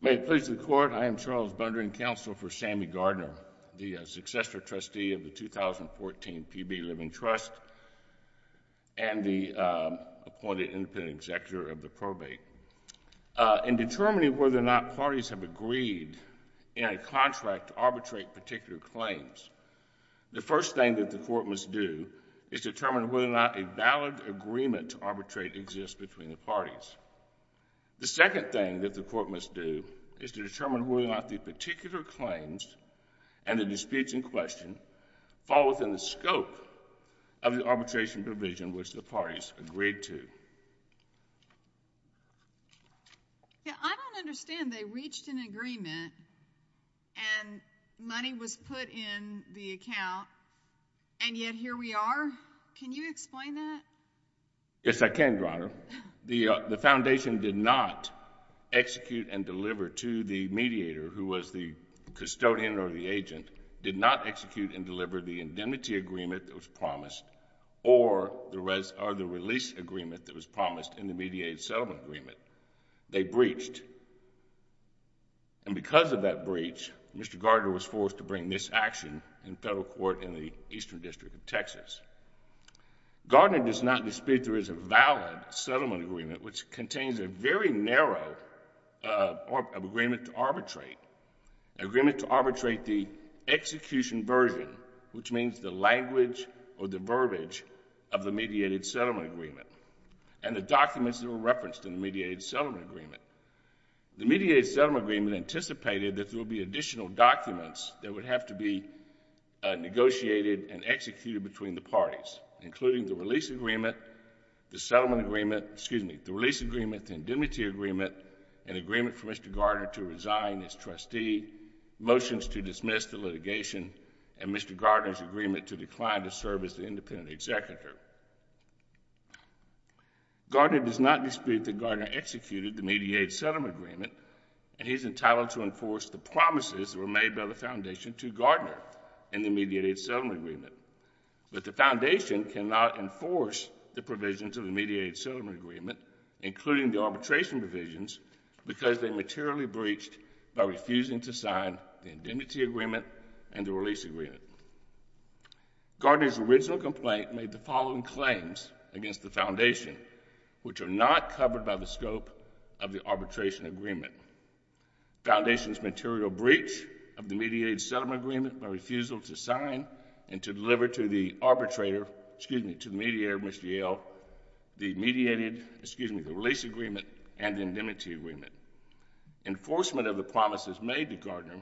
May it please the Court, I am Charles Bundring, counsel for Sammy Gardner, the successor trustee of the 2014 PB Living Trust and the appointed independent executor of the probate. In determining whether or not parties have agreed in a contract to arbitrate particular claims, the first thing that the Court must do is determine whether or not a valid agreement to arbitrate exists between the parties. The second thing that the Court must do is to determine whether or not the particular claims and the disputes in question fall within the scope of the arbitration provision which the parties agreed to. I don't understand, they reached an agreement and money was put in the account and yet here we are? Can you explain that? Yes, I can, Your Honor. The foundation did not execute and deliver to the mediator who was the custodian or the agent, did not execute and deliver the indemnity agreement that was promised or the release agreement that was promised in the mediated settlement agreement. They breached and because of that breach, Mr. Gardner was forced to bring this action in federal court in the Eastern District of Texas. Gardner does not dispute there is a valid settlement agreement which contains a very narrow agreement to arbitrate, agreement to arbitrate the execution version which means the language or the verbiage of the mediated settlement agreement and the documents that were referenced in the mediated settlement agreement. The mediated settlement agreement anticipated that there will be additional documents that would have to be negotiated and executed between the parties including the release agreement, the settlement agreement, excuse me, the release agreement, the indemnity agreement, an agreement for Mr. Gardner to resign as trustee, motions to dismiss the litigation and Mr. Gardner's agreement to decline to serve as the independent executor. Gardner does not dispute that Gardner executed the mediated settlement agreement and he's entitled to enforce the promises that were made by the Foundation to Gardner in the mediated settlement agreement. But the Foundation cannot enforce the provisions of the mediated settlement agreement including the arbitration provisions because they materially breached by refusing to sign the indemnity agreement and the release agreement. Gardner's original complaint made the following claims against the Foundation which are not covered by the scope of the arbitration agreement. Foundation's material breach of the mediated settlement agreement by refusal to sign and to deliver to the arbitrator, excuse me, to the mediator, Mr. Yale, the mediated, excuse me, the release agreement and the indemnity agreement. Enforcement of the promises made to Gardner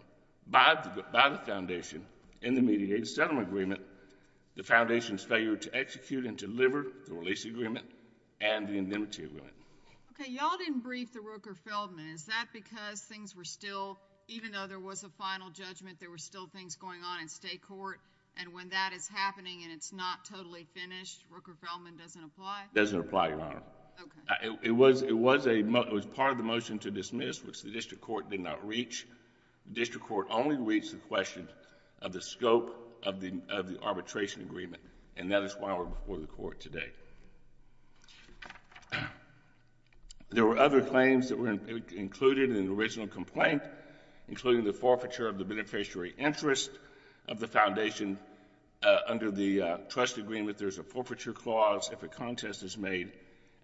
by the Foundation in the mediated settlement agreement, the Foundation's failure to execute and deliver the release agreement and the indemnity agreement. Okay. Y'all didn't brief the Rooker-Feldman. Is that because things were still, even though there was a final judgment, there were still things going on in state court and when that is happening and it's not totally finished, Rooker-Feldman doesn't apply? Doesn't apply, Your Honor. Okay. It was part of the motion to dismiss which the district court did not reach. The district court only reached the question of the scope of the arbitration agreement and that is why we're before the court today. There were other claims that were included in the original complaint, including the forfeiture of the beneficiary interest of the Foundation under the trust agreement, there's a forfeiture clause if a contest is made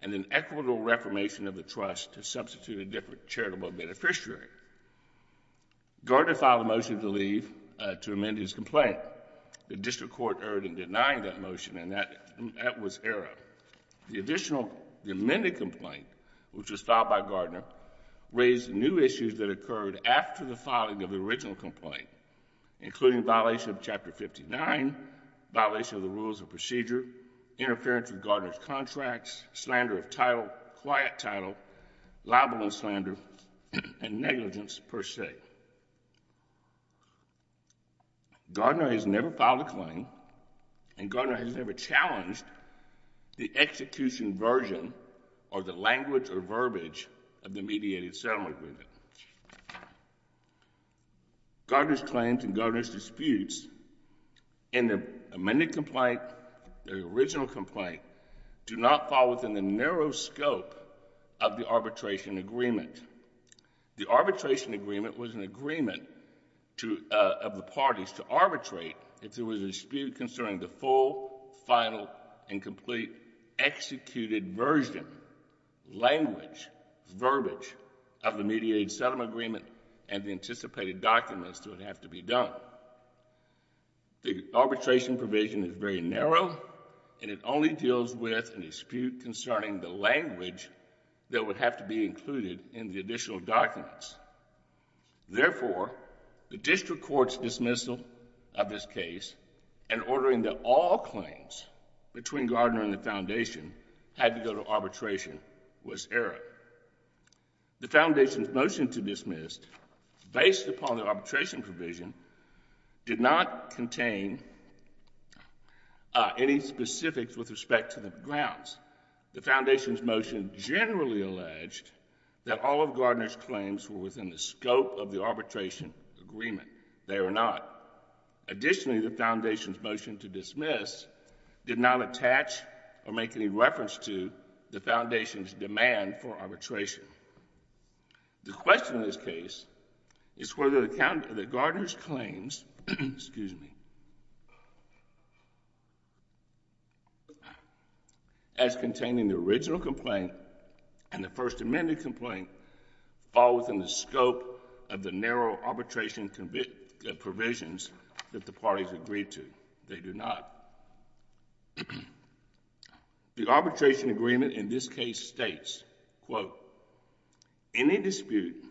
and an equitable reformation of the trust to substitute a different charitable beneficiary. Gardner filed a motion to leave to amend his complaint. The district court erred in denying that motion and that was error. The additional, the amended complaint, which was filed by Gardner, raised new issues that occurred after the filing of the original complaint, including violation of Chapter 59, violation of the rules of procedure, interference with Gardner's contracts, slander of title, quiet title, libel and slander, and negligence per se. Gardner has never filed a claim and Gardner has never challenged the execution version or the language or verbiage of the mediated settlement agreement. Gardner's claims and Gardner's disputes in the amended complaint, the original complaint, do not fall within the narrow scope of the arbitration agreement. The arbitration agreement was an agreement of the parties to arbitrate if there was a dispute concerning the full, final, and complete executed version, language, verbiage of the mediated settlement agreement and the anticipated documents that would have to be done. The arbitration provision is very narrow and it only deals with a dispute concerning the language that would have to be included in the additional documents. Therefore, the district court's dismissal of this case and ordering that all claims between Gardner and the Foundation had to go to arbitration was error. The Foundation's motion to dismiss, based upon the arbitration provision, did not contain any specifics with respect to the grounds. The Foundation's motion generally alleged that all of Gardner's claims were within the scope of the arbitration agreement. They are not. Additionally, the Foundation's motion to dismiss did not attach or make any reference to the Foundation's demand for arbitration. The question in this case is whether the Gardner's claims, excuse me, as containing the original complaint and the First Amendment complaint fall within the scope of the narrow arbitration provisions that the parties agreed to. They do not. The arbitration agreement in this case states, quote, any dispute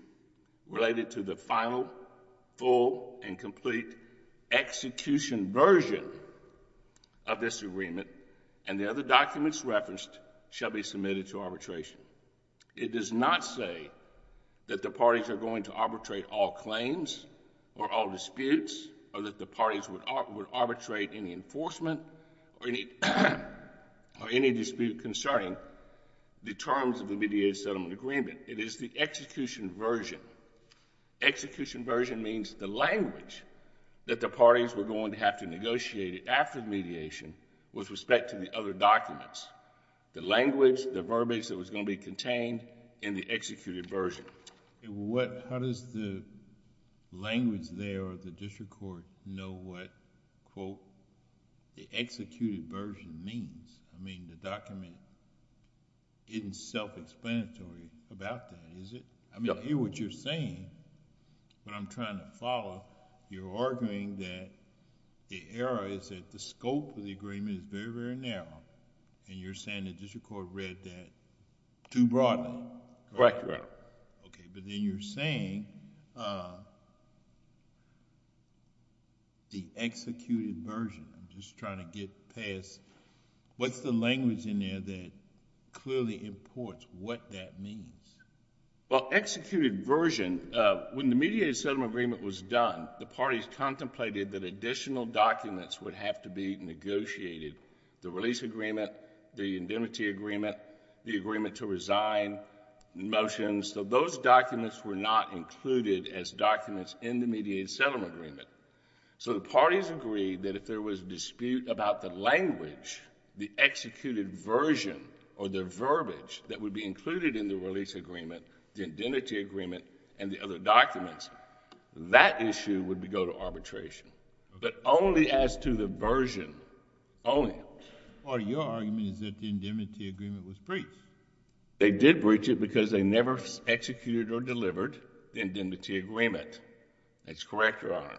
related to the final, full and complete execution version of this agreement and the other documents referenced shall be submitted to arbitration. It does not say that the parties are going to arbitrate all claims or all disputes or that the parties would arbitrate any enforcement or any dispute concerning the terms of the mediated settlement agreement. It is the execution version. Execution version means the language that the parties were going to have to negotiate after mediation with respect to the other documents, the language, the verbiage that was going to be contained in the executed version. How does the language there of the district court know what, quote, the executed version means? I mean, the document isn't self-explanatory about that, is it? I mean, here what you're saying, what I'm trying to follow, you're arguing that the error is that the scope of the agreement is very, very narrow, and you're saying the district court read that too broadly, correct? Correct, correct. Okay, but then you're saying the executed version, I'm just trying to get past, what's the language in there that clearly imports what that means? Well, executed version, when the mediated settlement agreement was done, the parties contemplated that additional documents would have to be negotiated, the release agreement, the indemnity agreement, the agreement to resign, the motions, so those documents were not included as documents in the mediated settlement agreement. So the parties agreed that if there was dispute about the language, the executed version, or the verbiage that would be included in the release agreement, the indemnity agreement, and the other documents, that issue would go to arbitration, but only as to the version, only. Your argument is that the indemnity agreement was breached. They did breach it because they never executed or delivered the indemnity agreement. That's correct, Your Honor,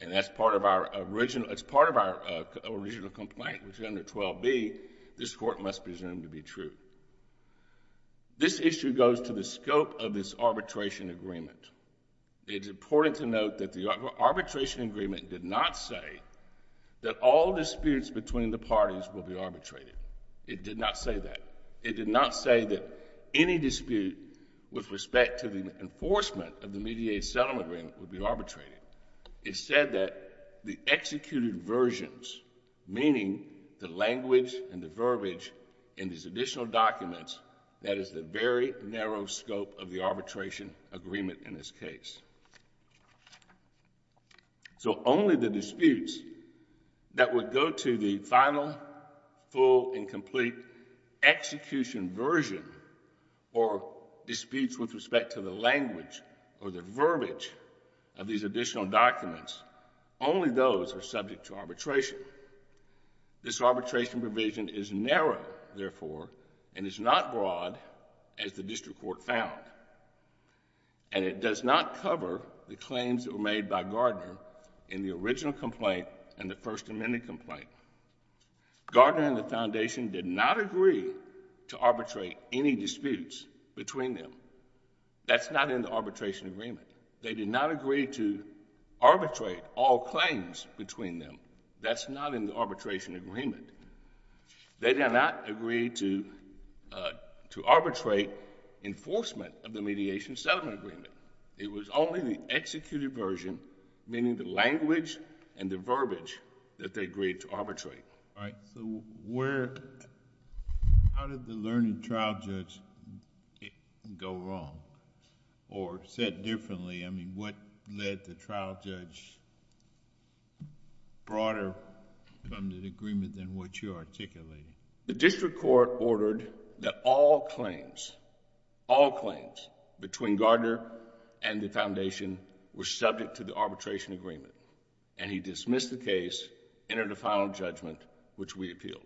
and that's part of our original complaint, which under 12b, this court must presume to be true. This issue goes to the scope of this arbitration agreement. It's important to note that the arbitration agreement did not say that all disputes between the parties will be arbitrated. It did not say that. It did not say that any dispute with respect to the enforcement of the mediated settlement agreement would be arbitrated. It said that the executed versions, meaning the language and the verbiage in these additional documents, that is the very narrow scope of the arbitration agreement in this case. So, only the disputes that would go to the final, full, and complete execution version or disputes with respect to the language or the verbiage of these additional documents, only those are subject to arbitration. This arbitration provision is narrow, therefore, and is not broad as the district court found. And it does not cover the claims that were made by Gardner in the original complaint and the First Amendment complaint. Gardner and the Foundation did not agree to arbitrate any disputes between them. That's not in the arbitration agreement. They did not agree to arbitrate all claims between them. That's not in the arbitration agreement. They did not agree to arbitrate enforcement of the mediation settlement agreement. It was only the executed version, meaning the language and the verbiage, that they agreed to arbitrate. All right. So, where... how did the learned trial judge go wrong? Or said differently? I mean, what led the trial judge broader from the agreement than what you're articulating? The district court ordered that all claims, all claims between Gardner and the Foundation were subject to the arbitration agreement, and he dismissed the case, entered a final judgment, which we appealed.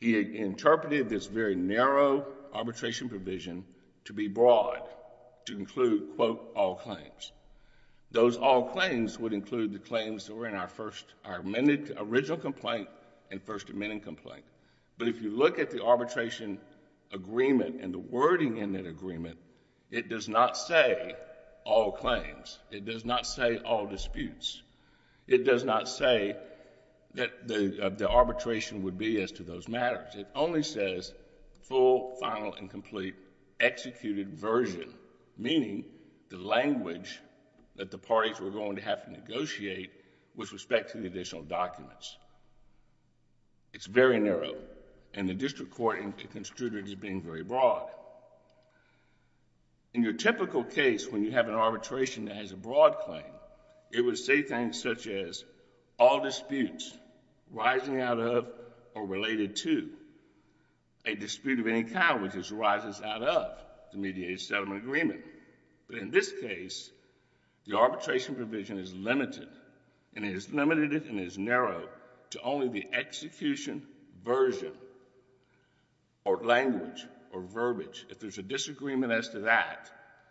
He interpreted this very narrow arbitration provision to be broad, to include, quote, all claims. Those all claims would include the claims that were in our first... our original complaint and First Amendment complaint. But if you look at the arbitration agreement and the wording in that agreement, it does not say all claims. It does not say all disputes. It does not say that the arbitration would be as to those matters. It only says full, final, and complete executed version, meaning the language that the parties were going to have to negotiate with respect to the additional documents. It's very narrow, and the district court construed it as being very broad. In your typical case, when you have an arbitration that has a broad claim, it would say things such as all disputes rising out of or related to a dispute of any kind, which just rises out of the mediated settlement agreement. But in this case, the arbitration provision is limited, and it is limited and it is narrow to only the execution version or language or verbiage. If there's a disagreement as to that,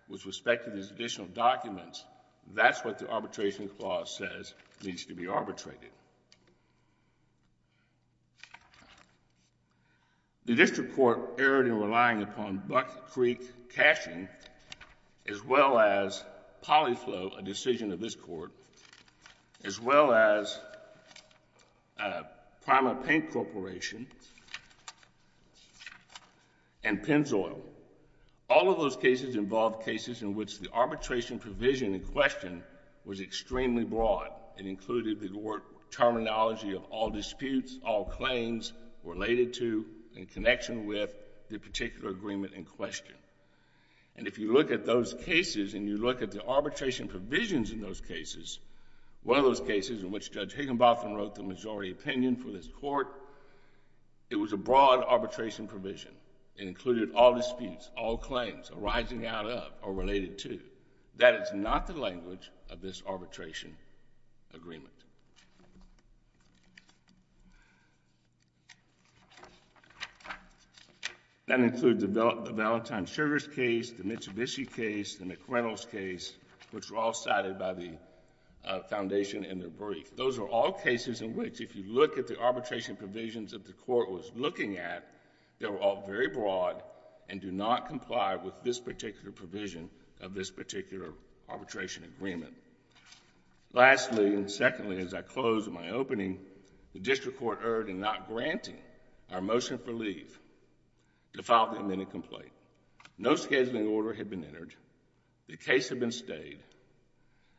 with respect to these additional documents, that's what the arbitration clause says needs to be arbitrated. The district court erred in relying upon Buck Creek cashing as well as poly flow, a decision of this Court, as well as PrimaPaint Corporation and Pennzoil. All of those cases involved cases in which the arbitration provision in question was extremely broad and included the terminology of all disputes, all claims related to and connection with the particular agreement in question. If you look at those cases and you look at the arbitration provisions in those cases, one of those cases in which Judge Higginbotham wrote the majority opinion for this Court, it was a broad arbitration provision. It included all disputes, all claims arising out of or related to. That is not the language of this arbitration agreement. That includes the Valentine Sugar's case, the Mitsubishi case, the McReynolds case, which were all cited by the foundation in their brief. Those are all cases in which if you look at the arbitration provisions that the Court was looking at, they were all very broad and do not comply with this particular provision of this particular arbitration agreement. Lastly, and secondly, as I close my opening, the District Court erred in not granting our motion for leave to file the amended complaint. No scheduling order had been entered. The case had been stayed.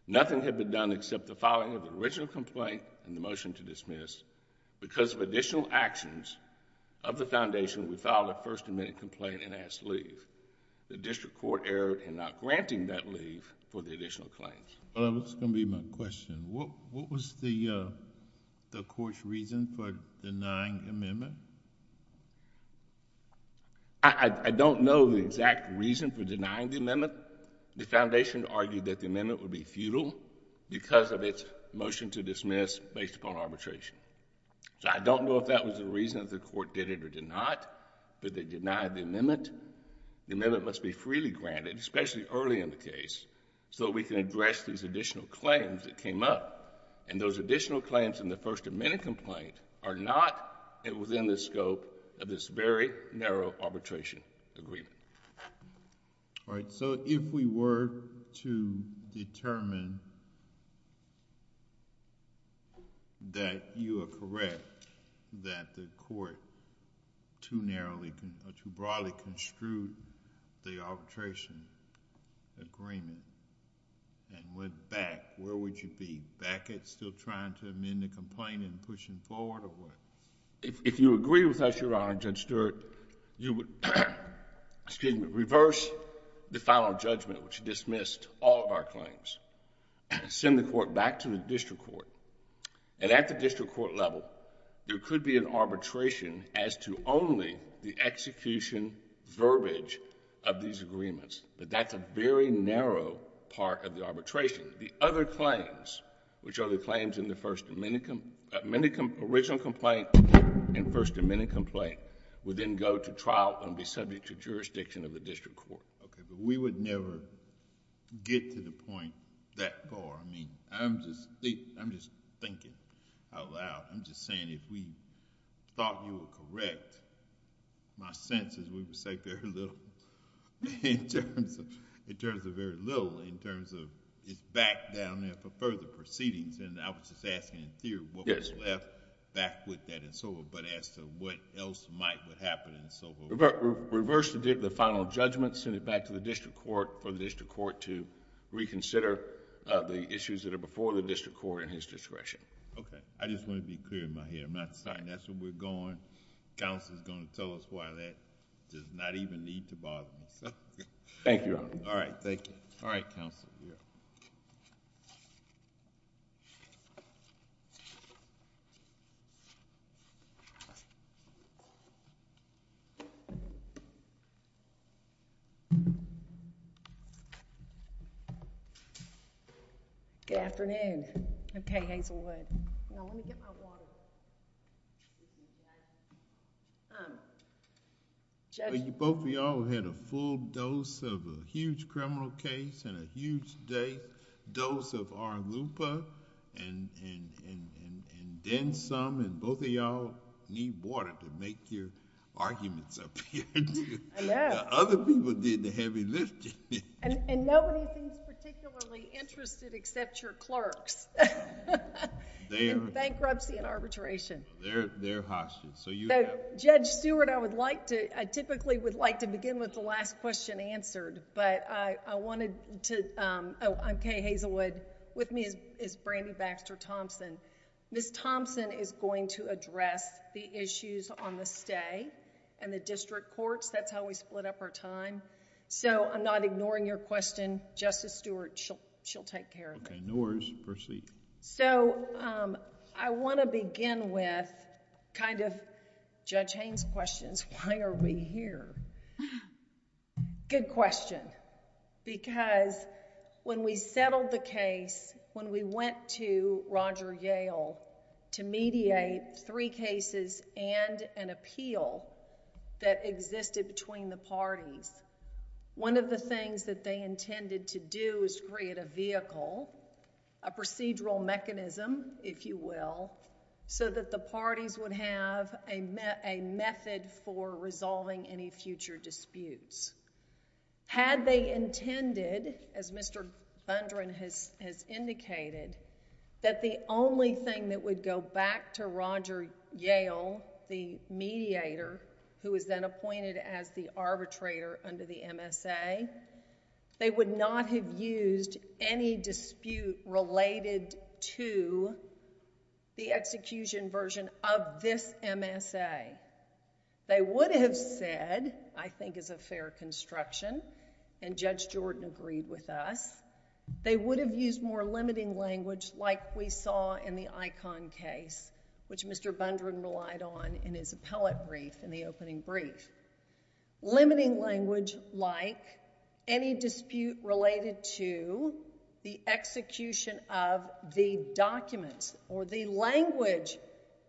Nothing had been done except the filing of the original complaint and the motion to dismiss. Because of additional actions of the foundation, we filed a first amended complaint and asked leave. The District Court erred in not granting that leave for the additional claims. Well, that's going to be my question. What was the Court's reason for denying amendment? I don't know the exact reason for denying the amendment. The foundation argued that the amendment would be futile because of its motion to dismiss based upon arbitration. I don't know if that was the reason that the Court did it or did not, but they denied the amendment. The amendment must be freely granted, especially early in the case, so we can address these additional claims that came up. Those additional claims in the first amended complaint are not within the scope of this very narrow arbitration agreement. All right, so if we were to determine that you are correct, that the Court too narrowly or too broadly construed the arbitration agreement and went back, where would you be, back at still trying to amend the complaint and pushing forward or what? If you agree with us, Your Honor, Judge Stewart, you would reverse the final judgment, which dismissed all of our claims, send the Court back to the District Court, and at the District Court level, there could be an arbitration as to only the execution verbiage of these agreements, but that's a very narrow part of the arbitration. The other claims, which are the claims in the original complaint and first amended complaint, would then go to trial and be subject to jurisdiction of the District Court. Okay, but we would never get to the point that far. I mean, I'm just thinking out loud, I'm just saying if we thought you were correct, my sense is we would say very little in terms of... it's back down there for further proceedings, and I was just asking in theory what was left back with that and so on, but as to what else might, what happened and so forth. Reverse the final judgment, send it back to the District Court for the District Court to reconsider the issues that are before the District Court in his discretion. Okay. I just want to be clear in my head. I'm not saying that's where we're going. Counsel is going to tell us why that does not even need to bother me. Thank you, Your Honor. All right. Thank you. All right, Counsel. Good afternoon. Okay, Hazelwood. No, let me get my water. Judge... Both of y'all had a full dose of a huge criminal case and a huge dose of RLUIPA, and then some, and both of y'all need water to make your arguments up here. I know. The other people did the heavy lifting. And nobody seems particularly interested except your clerks. They are. Bankruptcy and arbitration. They're hostage. So you have... Judge Stewart, I would like to... I typically would like to begin with the last question answered, but I wanted to... Oh, I'm Kay Hazelwood. With me is Brandi Baxter-Thompson. Ms. Thompson is going to address the issues on the stay and the District Courts. That's how we split up our time. So, I'm not ignoring your question, Justice Stewart. She'll take care of it. Okay. No worries. Proceed. So, I want to begin with kind of Judge Haines' questions. Why are we here? Good question. Because when we settled the case, when we went to Roger Yale to mediate three cases and an appeal that existed between the parties, one of the things that they intended to do is create a vehicle, a procedural mechanism, if you will, so that the parties would have a method for resolving any future disputes. Had they intended, as Mr. Gundren has indicated, that the only thing that would go back to Roger Yale, the mediator, who was then appointed as the arbitrator under the MSA, they would not have used any dispute related to the execution version of this MSA. They would have said, I think as a fair construction, and Judge Jordan agreed with us, they would have used more limiting language like we saw in the Icahn case, which Mr. Gundren relied on in his appellate brief, in the opening brief. Limiting language like any dispute related to the execution of the documents or the language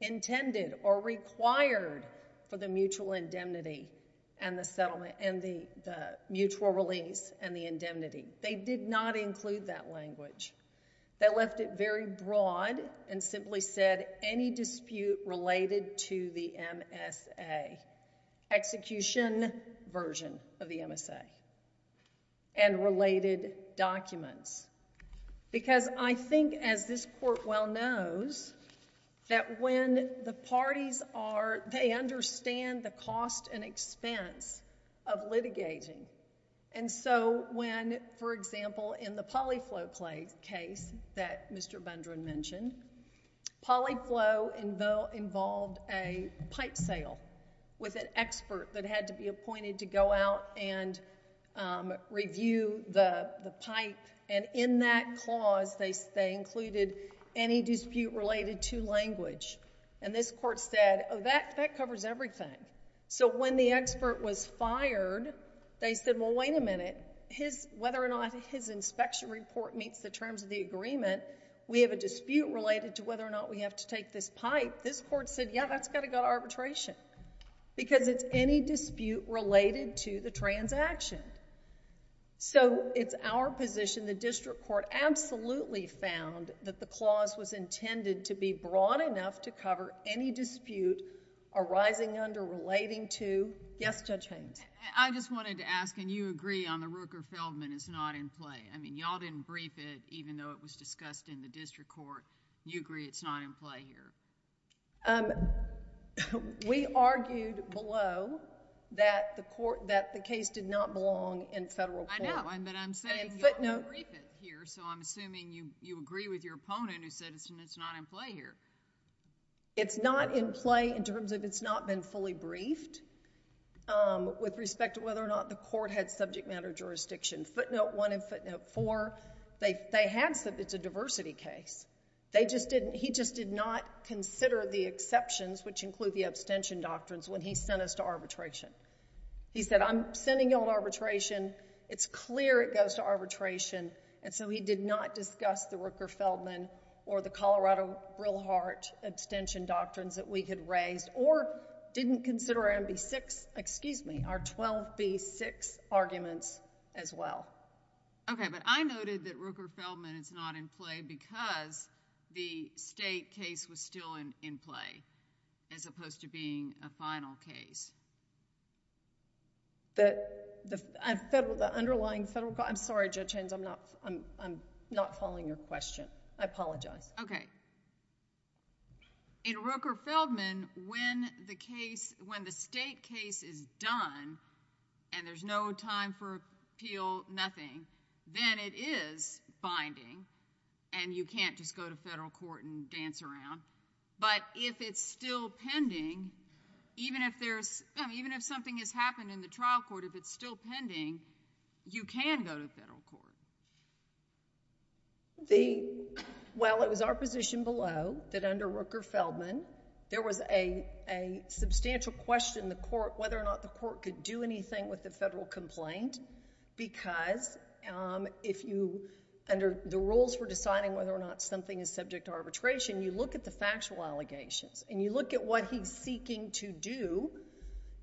intended or required for the mutual indemnity and the settlement and the mutual release and the indemnity. They did not include that language. They left it very broad and simply said any dispute related to the MSA. Execution version of the MSA and related documents. Because I think, as this court well knows, that when the parties are, they understand the cost and expense of litigating. And so when, for example, in the Polyflow case that Mr. Gundren mentioned, Polyflow involved a pipe sale with an expert that had to be appointed to go out and review the pipe. And in that clause, they included any dispute related to language. And this court said, oh, that covers everything. So when the expert was fired, they said, well, wait a minute. Whether or not his inspection report meets the terms of the agreement, we have a dispute related to whether or not we have to take this pipe. This court said, yeah, that's got to go to arbitration. Because it's any dispute related to the transaction. So it's our position, the district court absolutely found that the clause was intended to be broad enough to cover any dispute arising under relating to, yes, Judge Haynes? I just wanted to ask, and you agree on the Rooker-Feldman is not in play. I mean, y'all didn't brief it, even though it was discussed in the district court. You agree it's not in play here. We argued below that the case did not belong in federal court. I know, but I'm saying y'all didn't brief it here. So I'm assuming you agree with your opponent who said it's not in play here. It's not in play in terms of it's not been fully briefed with respect to whether or not the court had subject matter jurisdiction. Footnote one and footnote four, it's a diversity case. He just did not consider the exceptions, which include the abstention doctrines, when he sent us to arbitration. He said, I'm sending y'all to arbitration. It's clear it goes to arbitration. And so he did not discuss the Rooker-Feldman or the Colorado-Brilhart abstention doctrines that we had raised. Or didn't consider our 12B6 arguments as well. Okay, but I noted that Rooker-Feldman is not in play because the state case was still in play, as opposed to being a final case. The underlying federal court, I'm sorry, Judge Haynes, I'm not following your question. I apologize. Okay, in Rooker-Feldman, when the state case is done and there's no time for appeal, nothing, then it is binding and you can't just go to federal court and dance around. But if it's still pending, even if something has happened in the trial court, if it's still pending, you can go to federal court. Well, it was our position below that under Rooker-Feldman, there was a substantial question in the court whether or not the court could do anything with the federal complaint because if you, under the rules for deciding whether or not something is subject to arbitration, you look at the factual allegations. And you look at what he's seeking to do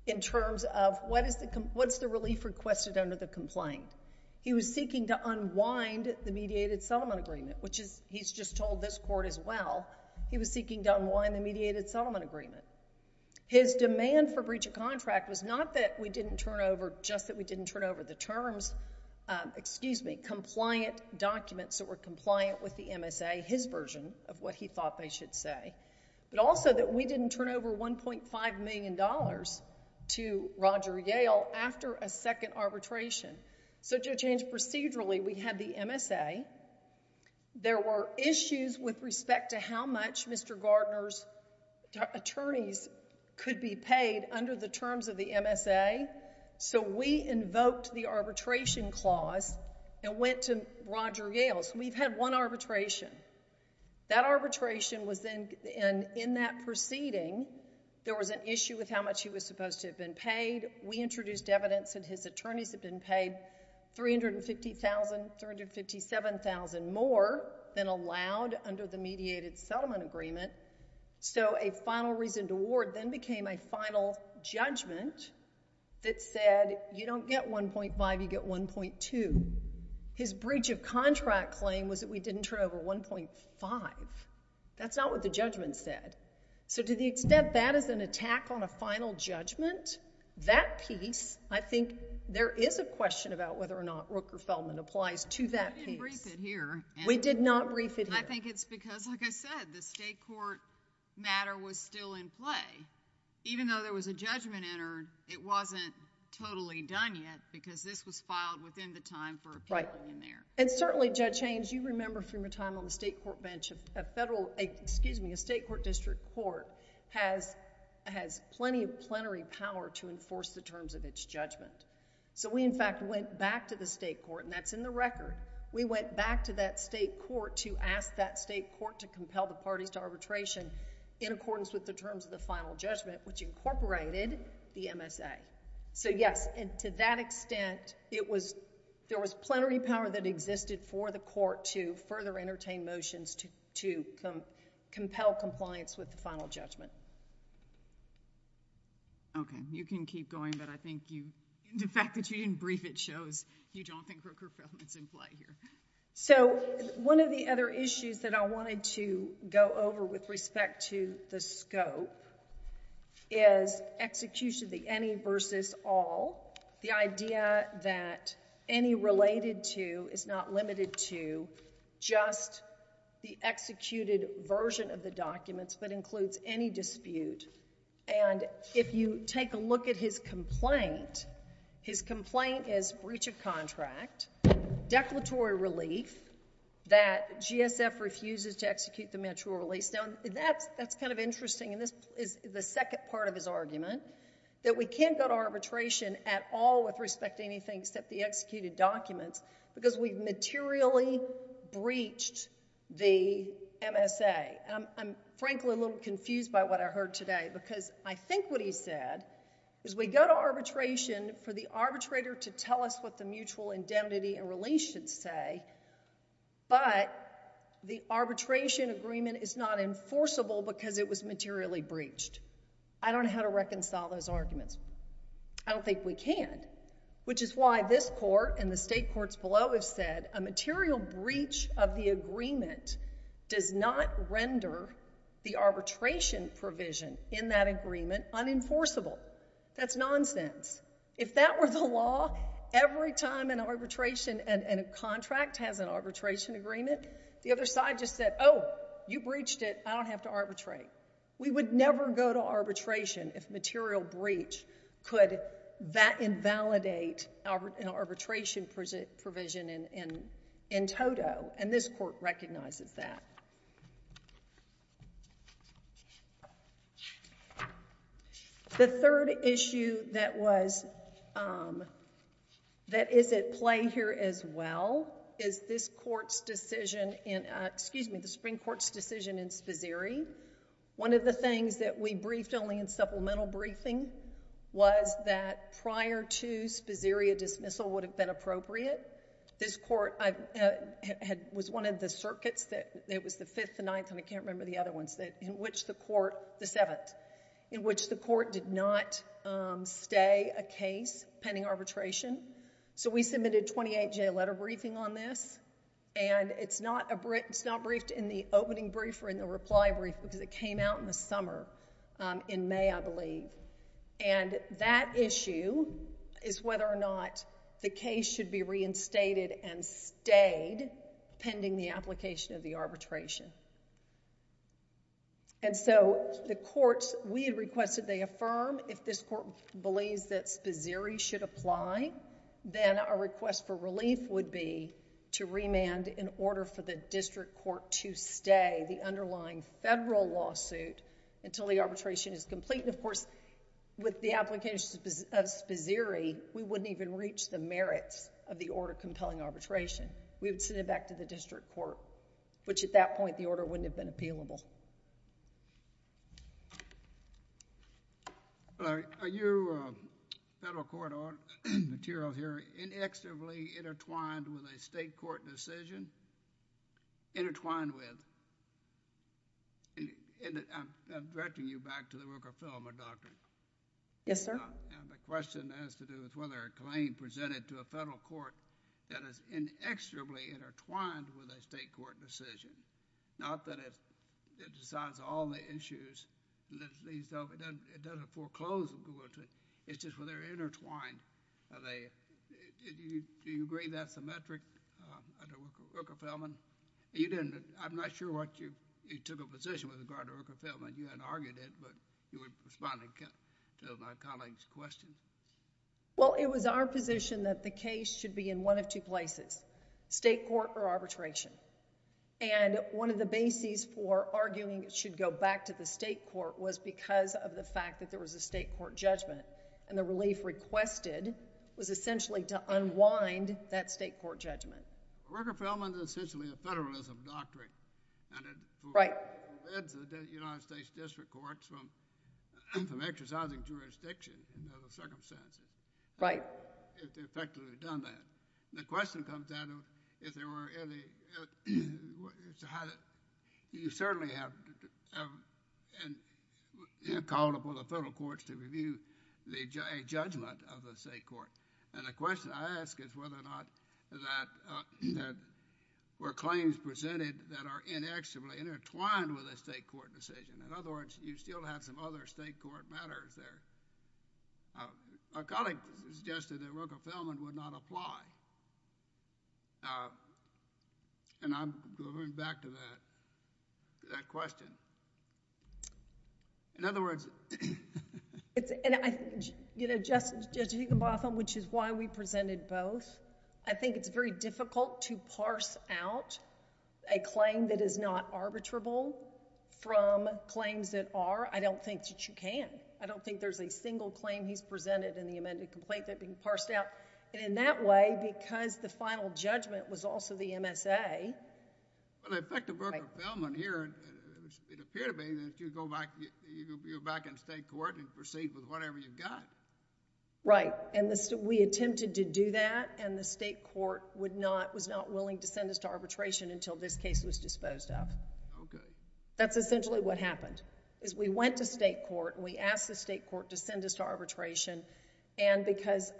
in terms of what's the relief requested under the complaint. He was seeking to unwind the mediated settlement agreement, which he's just told this court as well, he was seeking to unwind the mediated settlement agreement. His demand for breach of contract was not that we didn't turn over, just that we didn't turn over the terms, compliant documents that were compliant with the MSA, his version of what he thought they should say, but also that we didn't turn over $1.5 million to Roger Yale after a second arbitration. So to change procedurally, we had the MSA. There were issues with respect to how much Mr. Gardner's attorneys could be paid under the terms of the MSA, so we invoked the arbitration clause and went to Roger Yale. We've had one arbitration. That arbitration was then in that proceeding, there was an issue with how much he was supposed to have been paid. We introduced evidence that his attorneys had been paid $350,000, $357,000 more than allowed under the mediated settlement agreement, so a final reasoned award then became a final judgment that said you don't get $1.5, you get $1.2. His breach of contract claim was that we didn't turn over $1.5. That's not what the judgment said. So to the extent that is an attack on a final judgment, that piece, I think there is a question about whether or not Rooker-Feldman applies to that piece. We didn't brief it here. We did not brief it here. I think it's because, like I said, the state court matter was still in play. Even though there was a judgment entered, it wasn't totally done yet because this was filed within the time for appealing there. And certainly, Judge Haynes, you remember from your time on the state court bench, a federal, excuse me, a state court district court has plenty of plenary power to enforce the terms of its judgment. So we, in fact, went back to the state court, and that's in the record. We went back to that state court to ask that state court to compel the parties to arbitration in accordance with the terms of the final judgment, which incorporated the MSA. So yes, and to that extent, there was plenary power that existed for the court to further entertain motions to compel compliance with the final judgment. Okay. You can keep going, but I think the fact that you didn't brief it shows you don't think Rooker-Feldman's in play here. So one of the other issues that I wanted to go over with respect to the scope is execution of the any versus all. The idea that any related to is not limited to just the executed version of the documents, but includes any dispute. And if you take a look at his complaint, his complaint is breach of contract, declaratory relief, that GSF refuses to execute the mature release. Now, that's kind of interesting, and this is the second part of his argument, that we can't go to arbitration at all with respect to anything except the executed documents, because we've materially breached the MSA. I'm frankly a little confused by what I heard today, because I think what he said is we go to arbitration for the arbitrator to tell us what the mutual indemnity and release should say, but the arbitration agreement is not enforceable because it was materially breached. I don't know how to reconcile those arguments. I don't think we can, which is why this court and the state courts below have said a material breach of the agreement does not render the arbitration provision in that agreement unenforceable. That's nonsense. If that were the law, every time an arbitration and a contract has an arbitration agreement, the other side just said, oh, you breached it, I don't have to arbitrate. We would never go to arbitration if material breach could invalidate an arbitration provision in toto, and this court recognizes that. The third issue that is at play here as well is the Supreme Court's decision in Spiseri. One of the things that we briefed only in supplemental briefing was that prior to Spiseri, a dismissal would have been appropriate. This court was one of the circuits, it was the 5th, the 9th, and I can't remember the other ones, the 7th, in which the court did not stay a case pending arbitration, so we submitted 28-J letter briefing on this, and it's not briefed in the opening brief or in the reply brief because it came out in the summer in May, I believe. And that issue is whether or not the case should be reinstated and stayed pending the application of the arbitration. And so the courts, we had requested they affirm if this court believes that Spiseri should apply, then our request for relief would be to remand in order for the district court to stay the underlying federal lawsuit until the arbitration is complete. And of course, with the application of Spiseri, we wouldn't even reach the merits of the order compelling arbitration. We would send it back to the district court, which at that point, the order wouldn't have been appealable. Are you federal court materials here inextricably intertwined with a state court decision? Intertwined with? I'm directing you back to the Rooker-Feldman doctrine. Yes, sir. And the question has to do with whether a claim presented to a federal court that is inextricably intertwined with a state court decision, not that it decides all the issues, it doesn't foreclose, it's just whether they're intertwined. Do you agree that's the metric under Rooker-Feldman? You didn't, I'm not sure what you, you took a position with regard to Rooker-Feldman. You hadn't argued it, but you were responding to my colleague's question. Well, it was our position that the case should be in one of two places, state court or arbitration. And one of the bases for arguing it should go back to the state court was because of the fact that there was a state court judgment. And the relief requested was essentially to unwind that state court judgment. Rooker-Feldman is essentially a federalism doctrine. And it forbids the United States District Courts from exercising jurisdiction in those circumstances. If they've effectively done that. The question comes down to if there were any, you certainly have called upon the federal courts to review a judgment of the state court. And the question I ask is whether or not that were claims presented that are inextricably intertwined with a state court decision. In other words, you still have some other state court matters there. A colleague suggested that Rooker-Feldman would not apply. And I'm going back to that question. In other words, it's, you know, Judge Higginbotham, which is why we presented both, I think it's very difficult to parse out a claim that is not arbitrable from claims that are. I don't think that you can. I don't think there's a single claim he's presented in the amended complaint that can be parsed out. And in that way, because the final judgment was also the MSA, Well, in effect of Rooker-Feldman here, it appeared to me that you go back in state court and proceed with whatever you've got. Right. And we attempted to do that and the state court was not willing to send us to arbitration until this case was disposed of. That's essentially what happened. We went to state court and we asked the state court to send us to arbitration and because,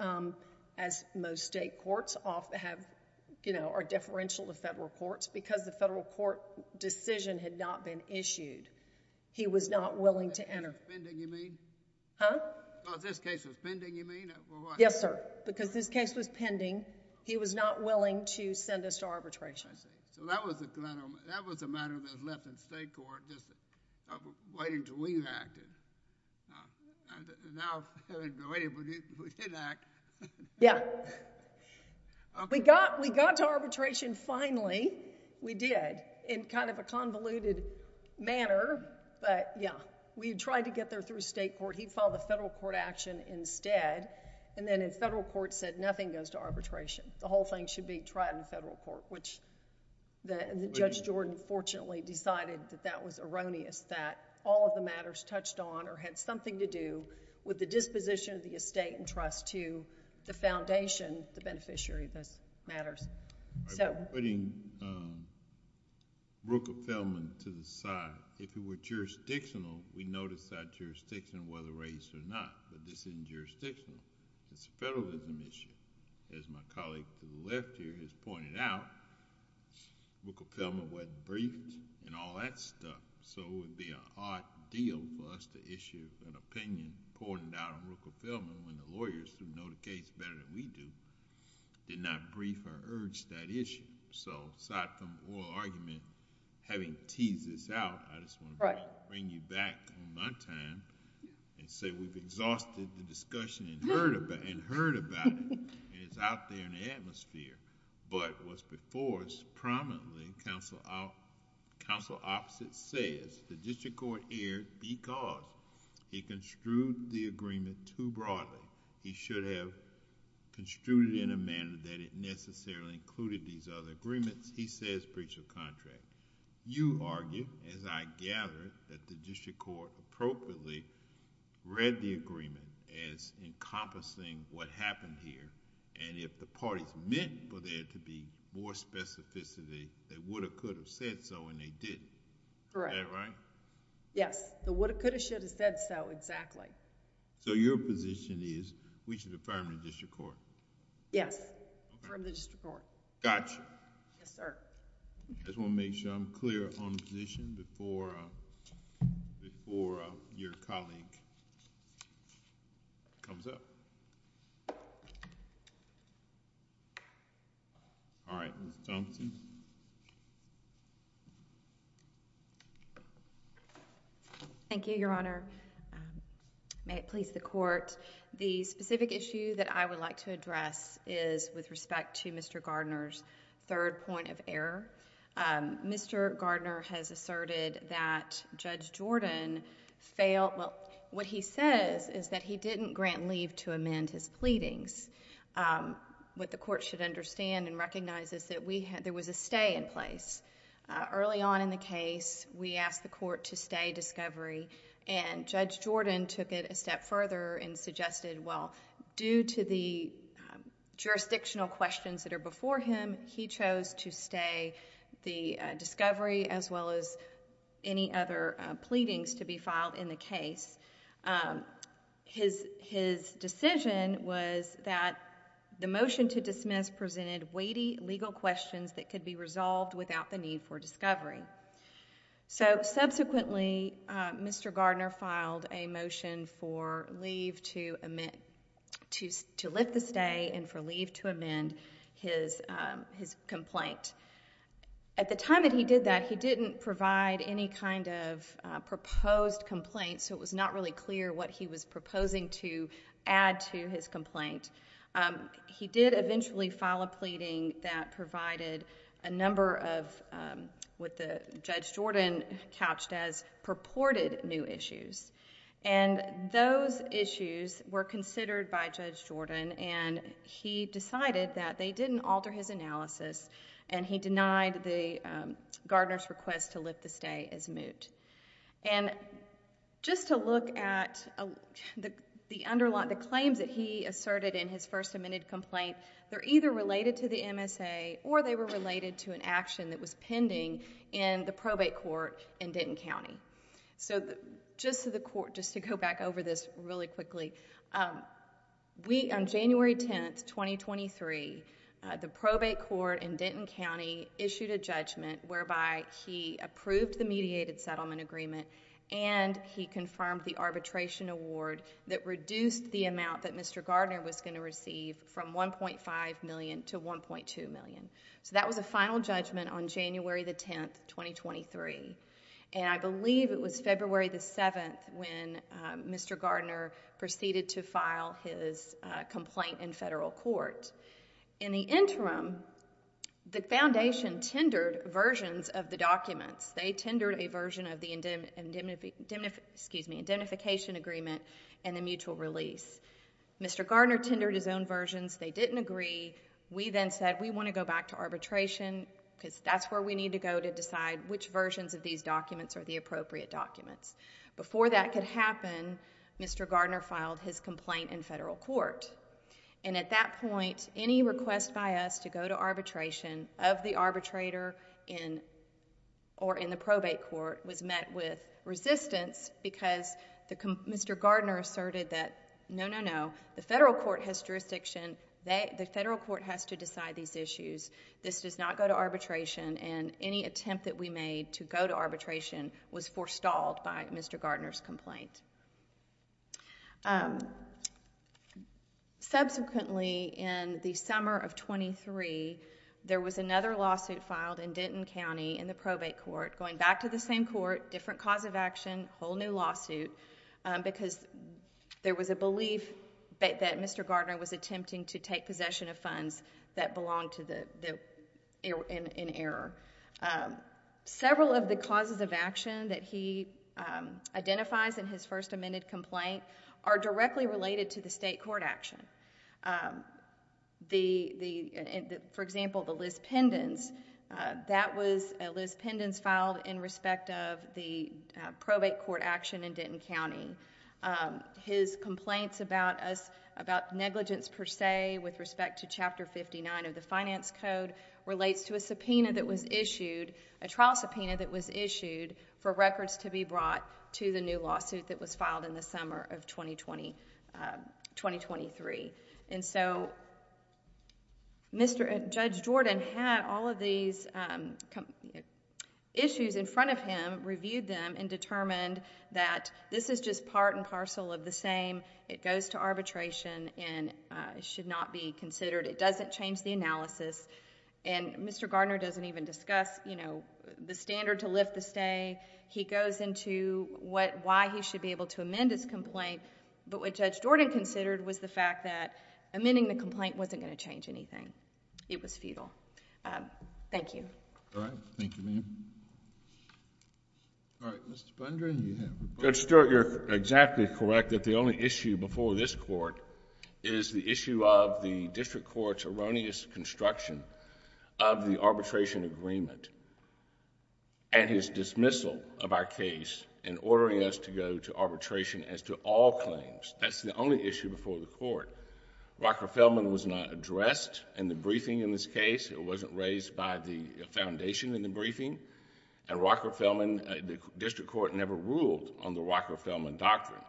as most state courts are differential to federal courts, because the federal court decision had not been issued, he was not willing to enter. Pending, you mean? Huh? Because this case was pending, you mean? Yes, sir. Because this case was pending, he was not willing to send us to arbitration. I see. So that was a matter that was left in state court just waiting until we acted. Now, we didn't act. Yeah. We got to arbitration finally. We did in kind of a convoluted manner but yeah, we tried to get there through state court. He filed a federal court action instead and then the federal court said nothing goes to arbitration. The whole thing should be tried in federal court, which Judge Jordan fortunately decided that that was erroneous, that all of the matters touched on or had something to do with the disposition of the estate and trust to the foundation, the beneficiary of those matters. Putting Rooker-Feldman to the side, if it were jurisdictional, we notice that jurisdiction whether raised or not, but this isn't jurisdictional. It's a federalism issue. As my colleague to the left here has pointed out, Rooker-Feldman wasn't briefed and all that stuff so it would be an odd deal for us to issue an opinion pointing out on Rooker-Feldman when the lawyers who know the case better than we do did not brief or urge that issue. Aside from oral argument, having teased this out, I just want to bring you back on my time and say we've exhausted the discussion and heard about it and it's out there in the atmosphere, but what's before us prominently, counsel opposite says the district court erred because he construed the agreement too broadly. He should have construed it in a manner that it necessarily included these other agreements. He says breach of contract. You argue, as I gather, that the district court appropriately read the agreement as encompassing what happened here and if the parties meant for there to be more specificity, they would have, could have said so and they didn't. Is that right? Yes. They would have, could have, should have said so, exactly. Your position is we should affirm the district court? Yes. Affirm the district court. Gotcha. Yes, sir. I just want to make sure I'm clear on position before your colleague comes up. All right, Ms. Thompson. Thank you, Your Honor. May it please the court. The specific issue that I would like to address is with respect to Mr. Gardner's third point of error. Mr. Gardner has asserted that Judge Jordan failed, well, what he says is that he didn't grant leave to amend his pleadings. What the court should understand and recognize is that there was a stay in place. Early on in the case, we asked the court to stay discovery and Judge Jordan took it a step further and suggested, well, due to the jurisdictional questions that are before him, he chose to stay the discovery as well as any other pleadings to be filed in the case. His decision was that the motion to dismiss presented weighty legal questions that could be resolved without the need for discovery. Subsequently, Mr. Gardner filed a motion for leave to lift the stay and for leave to amend his complaint. At the time that he did that, he didn't provide any kind of proposed complaint, so it was not really clear what he was proposing to add to his complaint. He did eventually file a pleading that provided a number of what the Judge Jordan couched as purported new issues and those issues were considered by Judge Jordan and he decided that they didn't alter his analysis and he denied Gardner's request to lift the stay as moot. Just to look at the claims that he asserted in his first amended complaint, they're either related to the MSA or they were related to an action that was pending in the probate court in Denton County. Just to go back over this really quickly, on January 10, 2023, the probate court in Denton County issued a judgment whereby he approved the mediated settlement agreement and he confirmed the arbitration award that reduced the amount that Mr. Gardner was going to receive from $1.5 million to $1.2 million. That was a final judgment on January 10, 2023. I believe it was February 7th when Mr. Gardner proceeded to file his complaint in federal court. In the interim, the foundation tendered versions of the documents. They tendered a version of the indemnification agreement and the mutual release. Mr. Gardner tendered his own versions. They didn't agree. We then said, we want to go back to arbitration because that's where we need to go to decide which versions of these documents are the appropriate documents. Before that could happen, Mr. Gardner filed his complaint in federal court. At that point, any request by us to go to arbitration of the arbitrator or in the probate court was met with resistance because Mr. Gardner asserted that no, no, no. The federal court has jurisdiction. The federal court has to decide these issues. This does not go to arbitration and any attempt that we made to go to arbitration was forestalled by Mr. Gardner's complaint. Subsequently, in the summer of 2023, there was another lawsuit filed in Denton County in the probate court going back to the same court, different cause of action, whole new lawsuit because there was a belief that Mr. Gardner was attempting to take possession of funds that belonged in error. Several of the causes of action that he identifies in his first amended complaint are directly related to the state court action. For example, the Liz Pendens, that was a Liz Pendens filed in respect of the probate court action in Denton County. His complaints about negligence per se with respect to Chapter 59 of the Finance Code relates to a subpoena that was issued, a trial subpoena that was issued for records to be brought to the new lawsuit that was filed in the summer of 2023. Judge Jordan had all of these issues in front of him, reviewed them and determined that this is just part and parcel of the same. It goes to arbitration and should not be considered. It doesn't change the analysis and Mr. Gardner doesn't even discuss the standard to lift the stay. He goes into why he should be able to amend his complaint, but what Judge Jordan considered was the fact that amending the complaint wasn't going to change anything. It was futile. Thank you. Judge Stewart, you're exactly correct that the only issue before this Court is the issue of the district court's erroneous construction of the arbitration agreement and his dismissal of our case and ordering us to go to arbitration as to all claims. That's the only issue before the Court. Rockefellman was not addressed in the briefing in this case. It wasn't raised by the foundation in the briefing and the district court never ruled on the Rockefellman doctrine.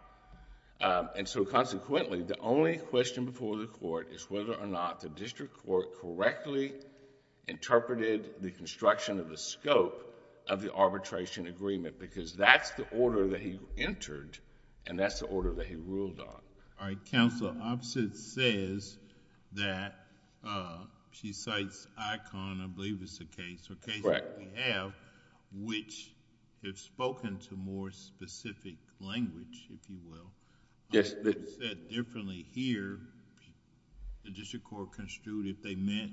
Consequently, the only question before the Court is whether or not the district court correctly interpreted the construction of the scope of the arbitration agreement, because that's the order that he entered and that's the order that he ruled on. All right. Counsel, Opsith says that... she cites Icahn, I believe is the case, or cases that we have, which have spoken to more specific language, if you will. Yes. The district court construed if they meant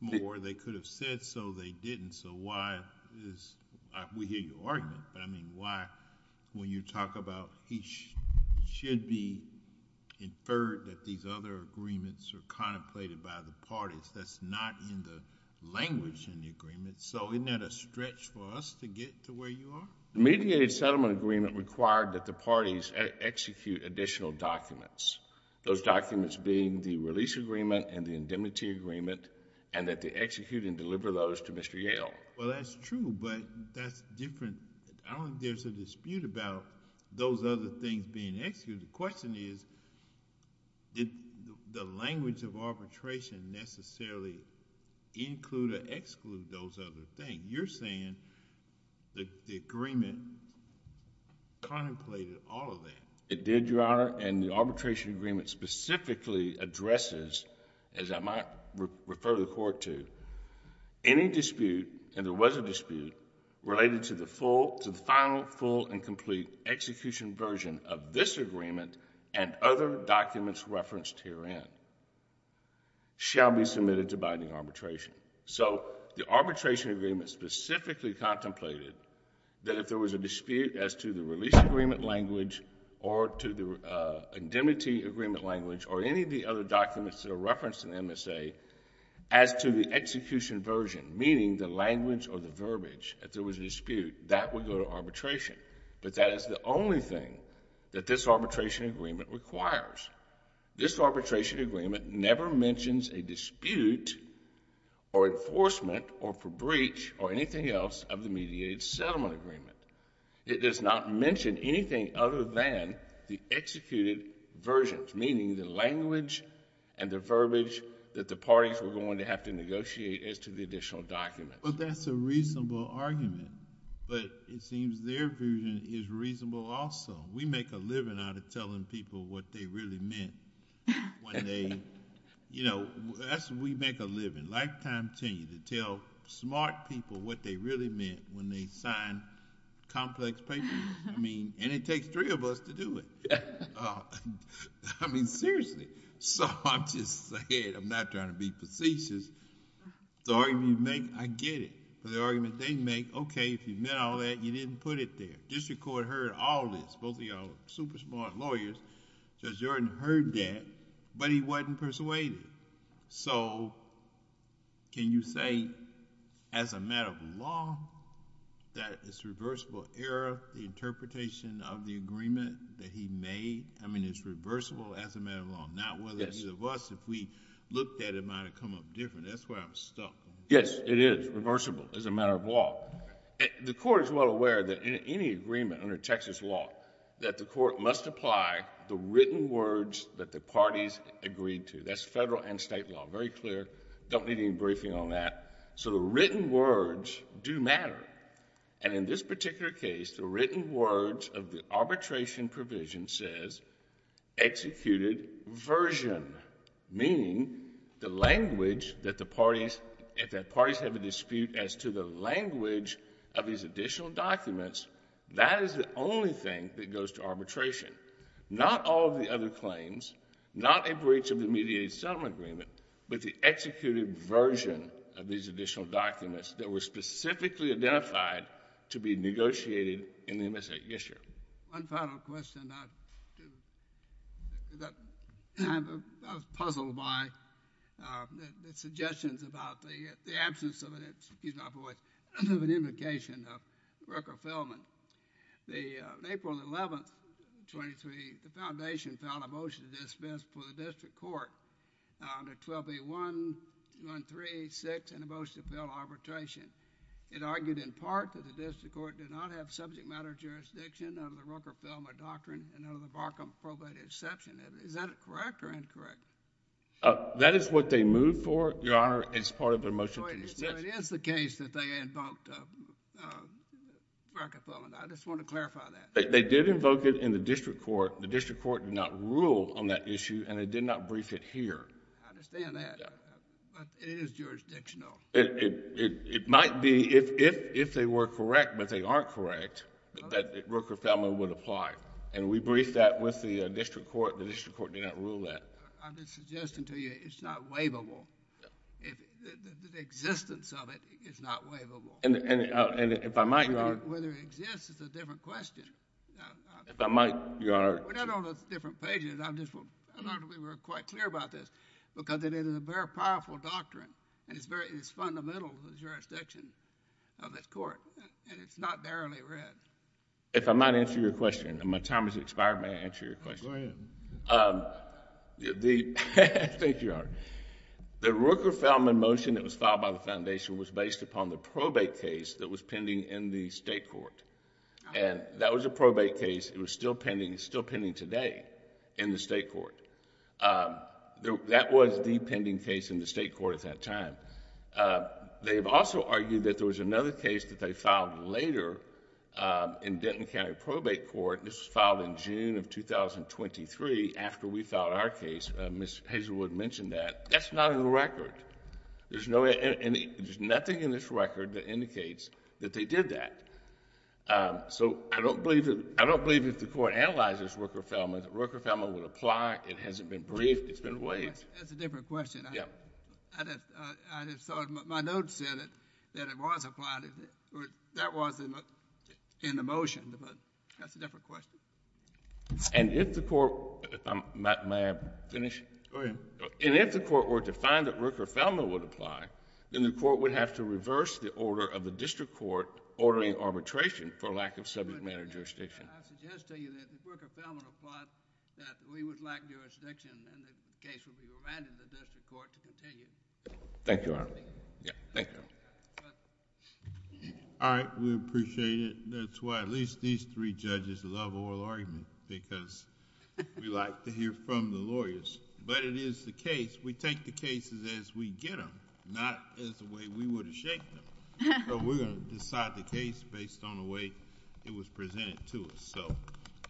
more, they could have said so. They didn't, so why is... we hear your argument, but I mean why, when you talk about he should be inferred that these other agreements are contemplated by the parties, that's not in the language in the agreement, so isn't that a stretch for us to get to where you are? The mediated settlement agreement required that the parties execute additional documents, those documents being the release agreement and the indemnity agreement and that they execute and deliver those to Mr. Yale. Well, that's true, but that's different. I don't think there's a dispute about those other things being executed. The question is, did the language of arbitration necessarily include or exclude those other things? You're saying that the agreement contemplated all of that. It did, Your Honor, and the arbitration agreement specifically addresses, as I might refer the Court to, any dispute, and there was a dispute, related to the final, full, and complete execution version of this agreement and other documents referenced herein shall be submitted to binding arbitration. The arbitration agreement specifically contemplated that if there was a dispute as to the release agreement language or to the indemnity agreement language or any of the other documents that are referenced in the MSA as to the execution version, meaning the language or the verbiage if there was a dispute, that would go to arbitration. But that is the only thing that this arbitration agreement requires. This arbitration agreement never mentions a dispute or enforcement or for breach or anything else of the mediated settlement agreement. It does not mention anything other than the executed versions, meaning the language and the verbiage that the parties were going to have to negotiate as to the additional documents. Well, that's a reasonable argument, but it seems their version is reasonable also. We make a living out of telling people what they really meant when they, you know, we make a living, lifetime tenure, to tell smart people what they really meant when they sign complex papers. I mean, and it takes three of us to do it. I mean, seriously. So I'm just saying, I'm not trying to be facetious. The argument you make, I get it. But the argument they make, okay, if you meant all that, you didn't put it there. District Court heard all this. Both of y'all are super smart lawyers. Judge Jordan heard that, but he wasn't persuaded. So can you say as a matter of law that it's reversible error, the interpretation of the agreement that he made? I mean, it's reversible as a matter of law. Not whether it was. If we looked at it, it might have come up different. That's where I was stuck. Yes, it is reversible as a matter of law. The Court is well aware that in any agreement under Texas law, that the Court must apply the written words that the parties agreed to. That's federal and state law. Very clear. Don't need any briefing on that. So the written words do matter. And in this particular case, the written words of the arbitration provision says executed version. Meaning the language that the parties, if the parties have a dispute as to the language of these additional documents, that is the only thing that goes to arbitration. Not all of the other claims, not a breach of the mediated settlement agreement, but the executed version of these additional documents that were specifically identified to be negotiated in the MSA. Yes, sir. One final question. I was puzzled by the suggestions about the absence of, excuse my voice, of an implication of Rooker-Feldman. On April 11, 23, the Foundation filed a motion to dismiss for the District Court under 12A.1.136 in the motion to fill arbitration. It argued in part that the District Court did not have subject matter jurisdiction under the Rooker-Feldman doctrine and under the Barcomb probate exception. Is that correct or incorrect? That is what they moved for, Your Honor, as part of their motion to dismiss. It is the case that they invoked Rooker-Feldman. I just want to clarify that. They did invoke it in the District Court. The District Court did not rule on that issue, and it did not brief it here. I understand that. But it is jurisdictional. It might be if they were correct, but they aren't correct, that Rooker-Feldman would apply. And we briefed that with the District Court. The District Court did not rule that. I'm just suggesting to you it's not waivable. The existence of it is not waivable. And if I might, Your Honor. Whether it exists is a different question. If I might, Your Honor. We're not on different pages. I just want to make sure we're quite clear about this because it is a very powerful doctrine, and it's fundamental to the jurisdiction of this Court. And it's not narrowly read. If I might answer your question. My time has expired. May I answer your question? Go ahead. The Rooker-Feldman motion that was filed by the Foundation was based upon the probate case that was pending in the State Court. And that was a probate case. It was still pending today in the State Court. That was the pending case in the State Court at that time. They've also argued that there was another case that they filed later in Denton County Probate Court. This was filed in June of 2023 after we filed our case. Ms. Hazelwood mentioned that. That's not in the record. There's nothing in this record that indicates that they did that. So I don't believe if the Court analyzes Rooker-Feldman that Rooker-Feldman would apply. It hasn't been briefed. It's been waived. That's a different question. My notes said that it was applied. That wasn't in the motion, but that's a different question. And if the Court were to find that Rooker-Feldman would apply, then the Court would have to reverse the order of the District Court ordering arbitration for lack of subject matter jurisdiction. I suggest to you that if Rooker-Feldman applied, that we would lack jurisdiction and the case would be remanded to the District Court to continue. Thank you, Your Honor. All right. We appreciate it. That's why at least these three judges love oral argument because we like to hear from the lawyers. But it is the case. We take the cases as we get them, not as the way we would have shaped them. So we're going to decide the case based on the way it was presented to us. So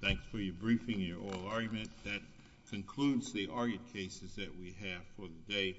thanks for your briefing and your oral argument. That concludes the argued cases that we have for the day.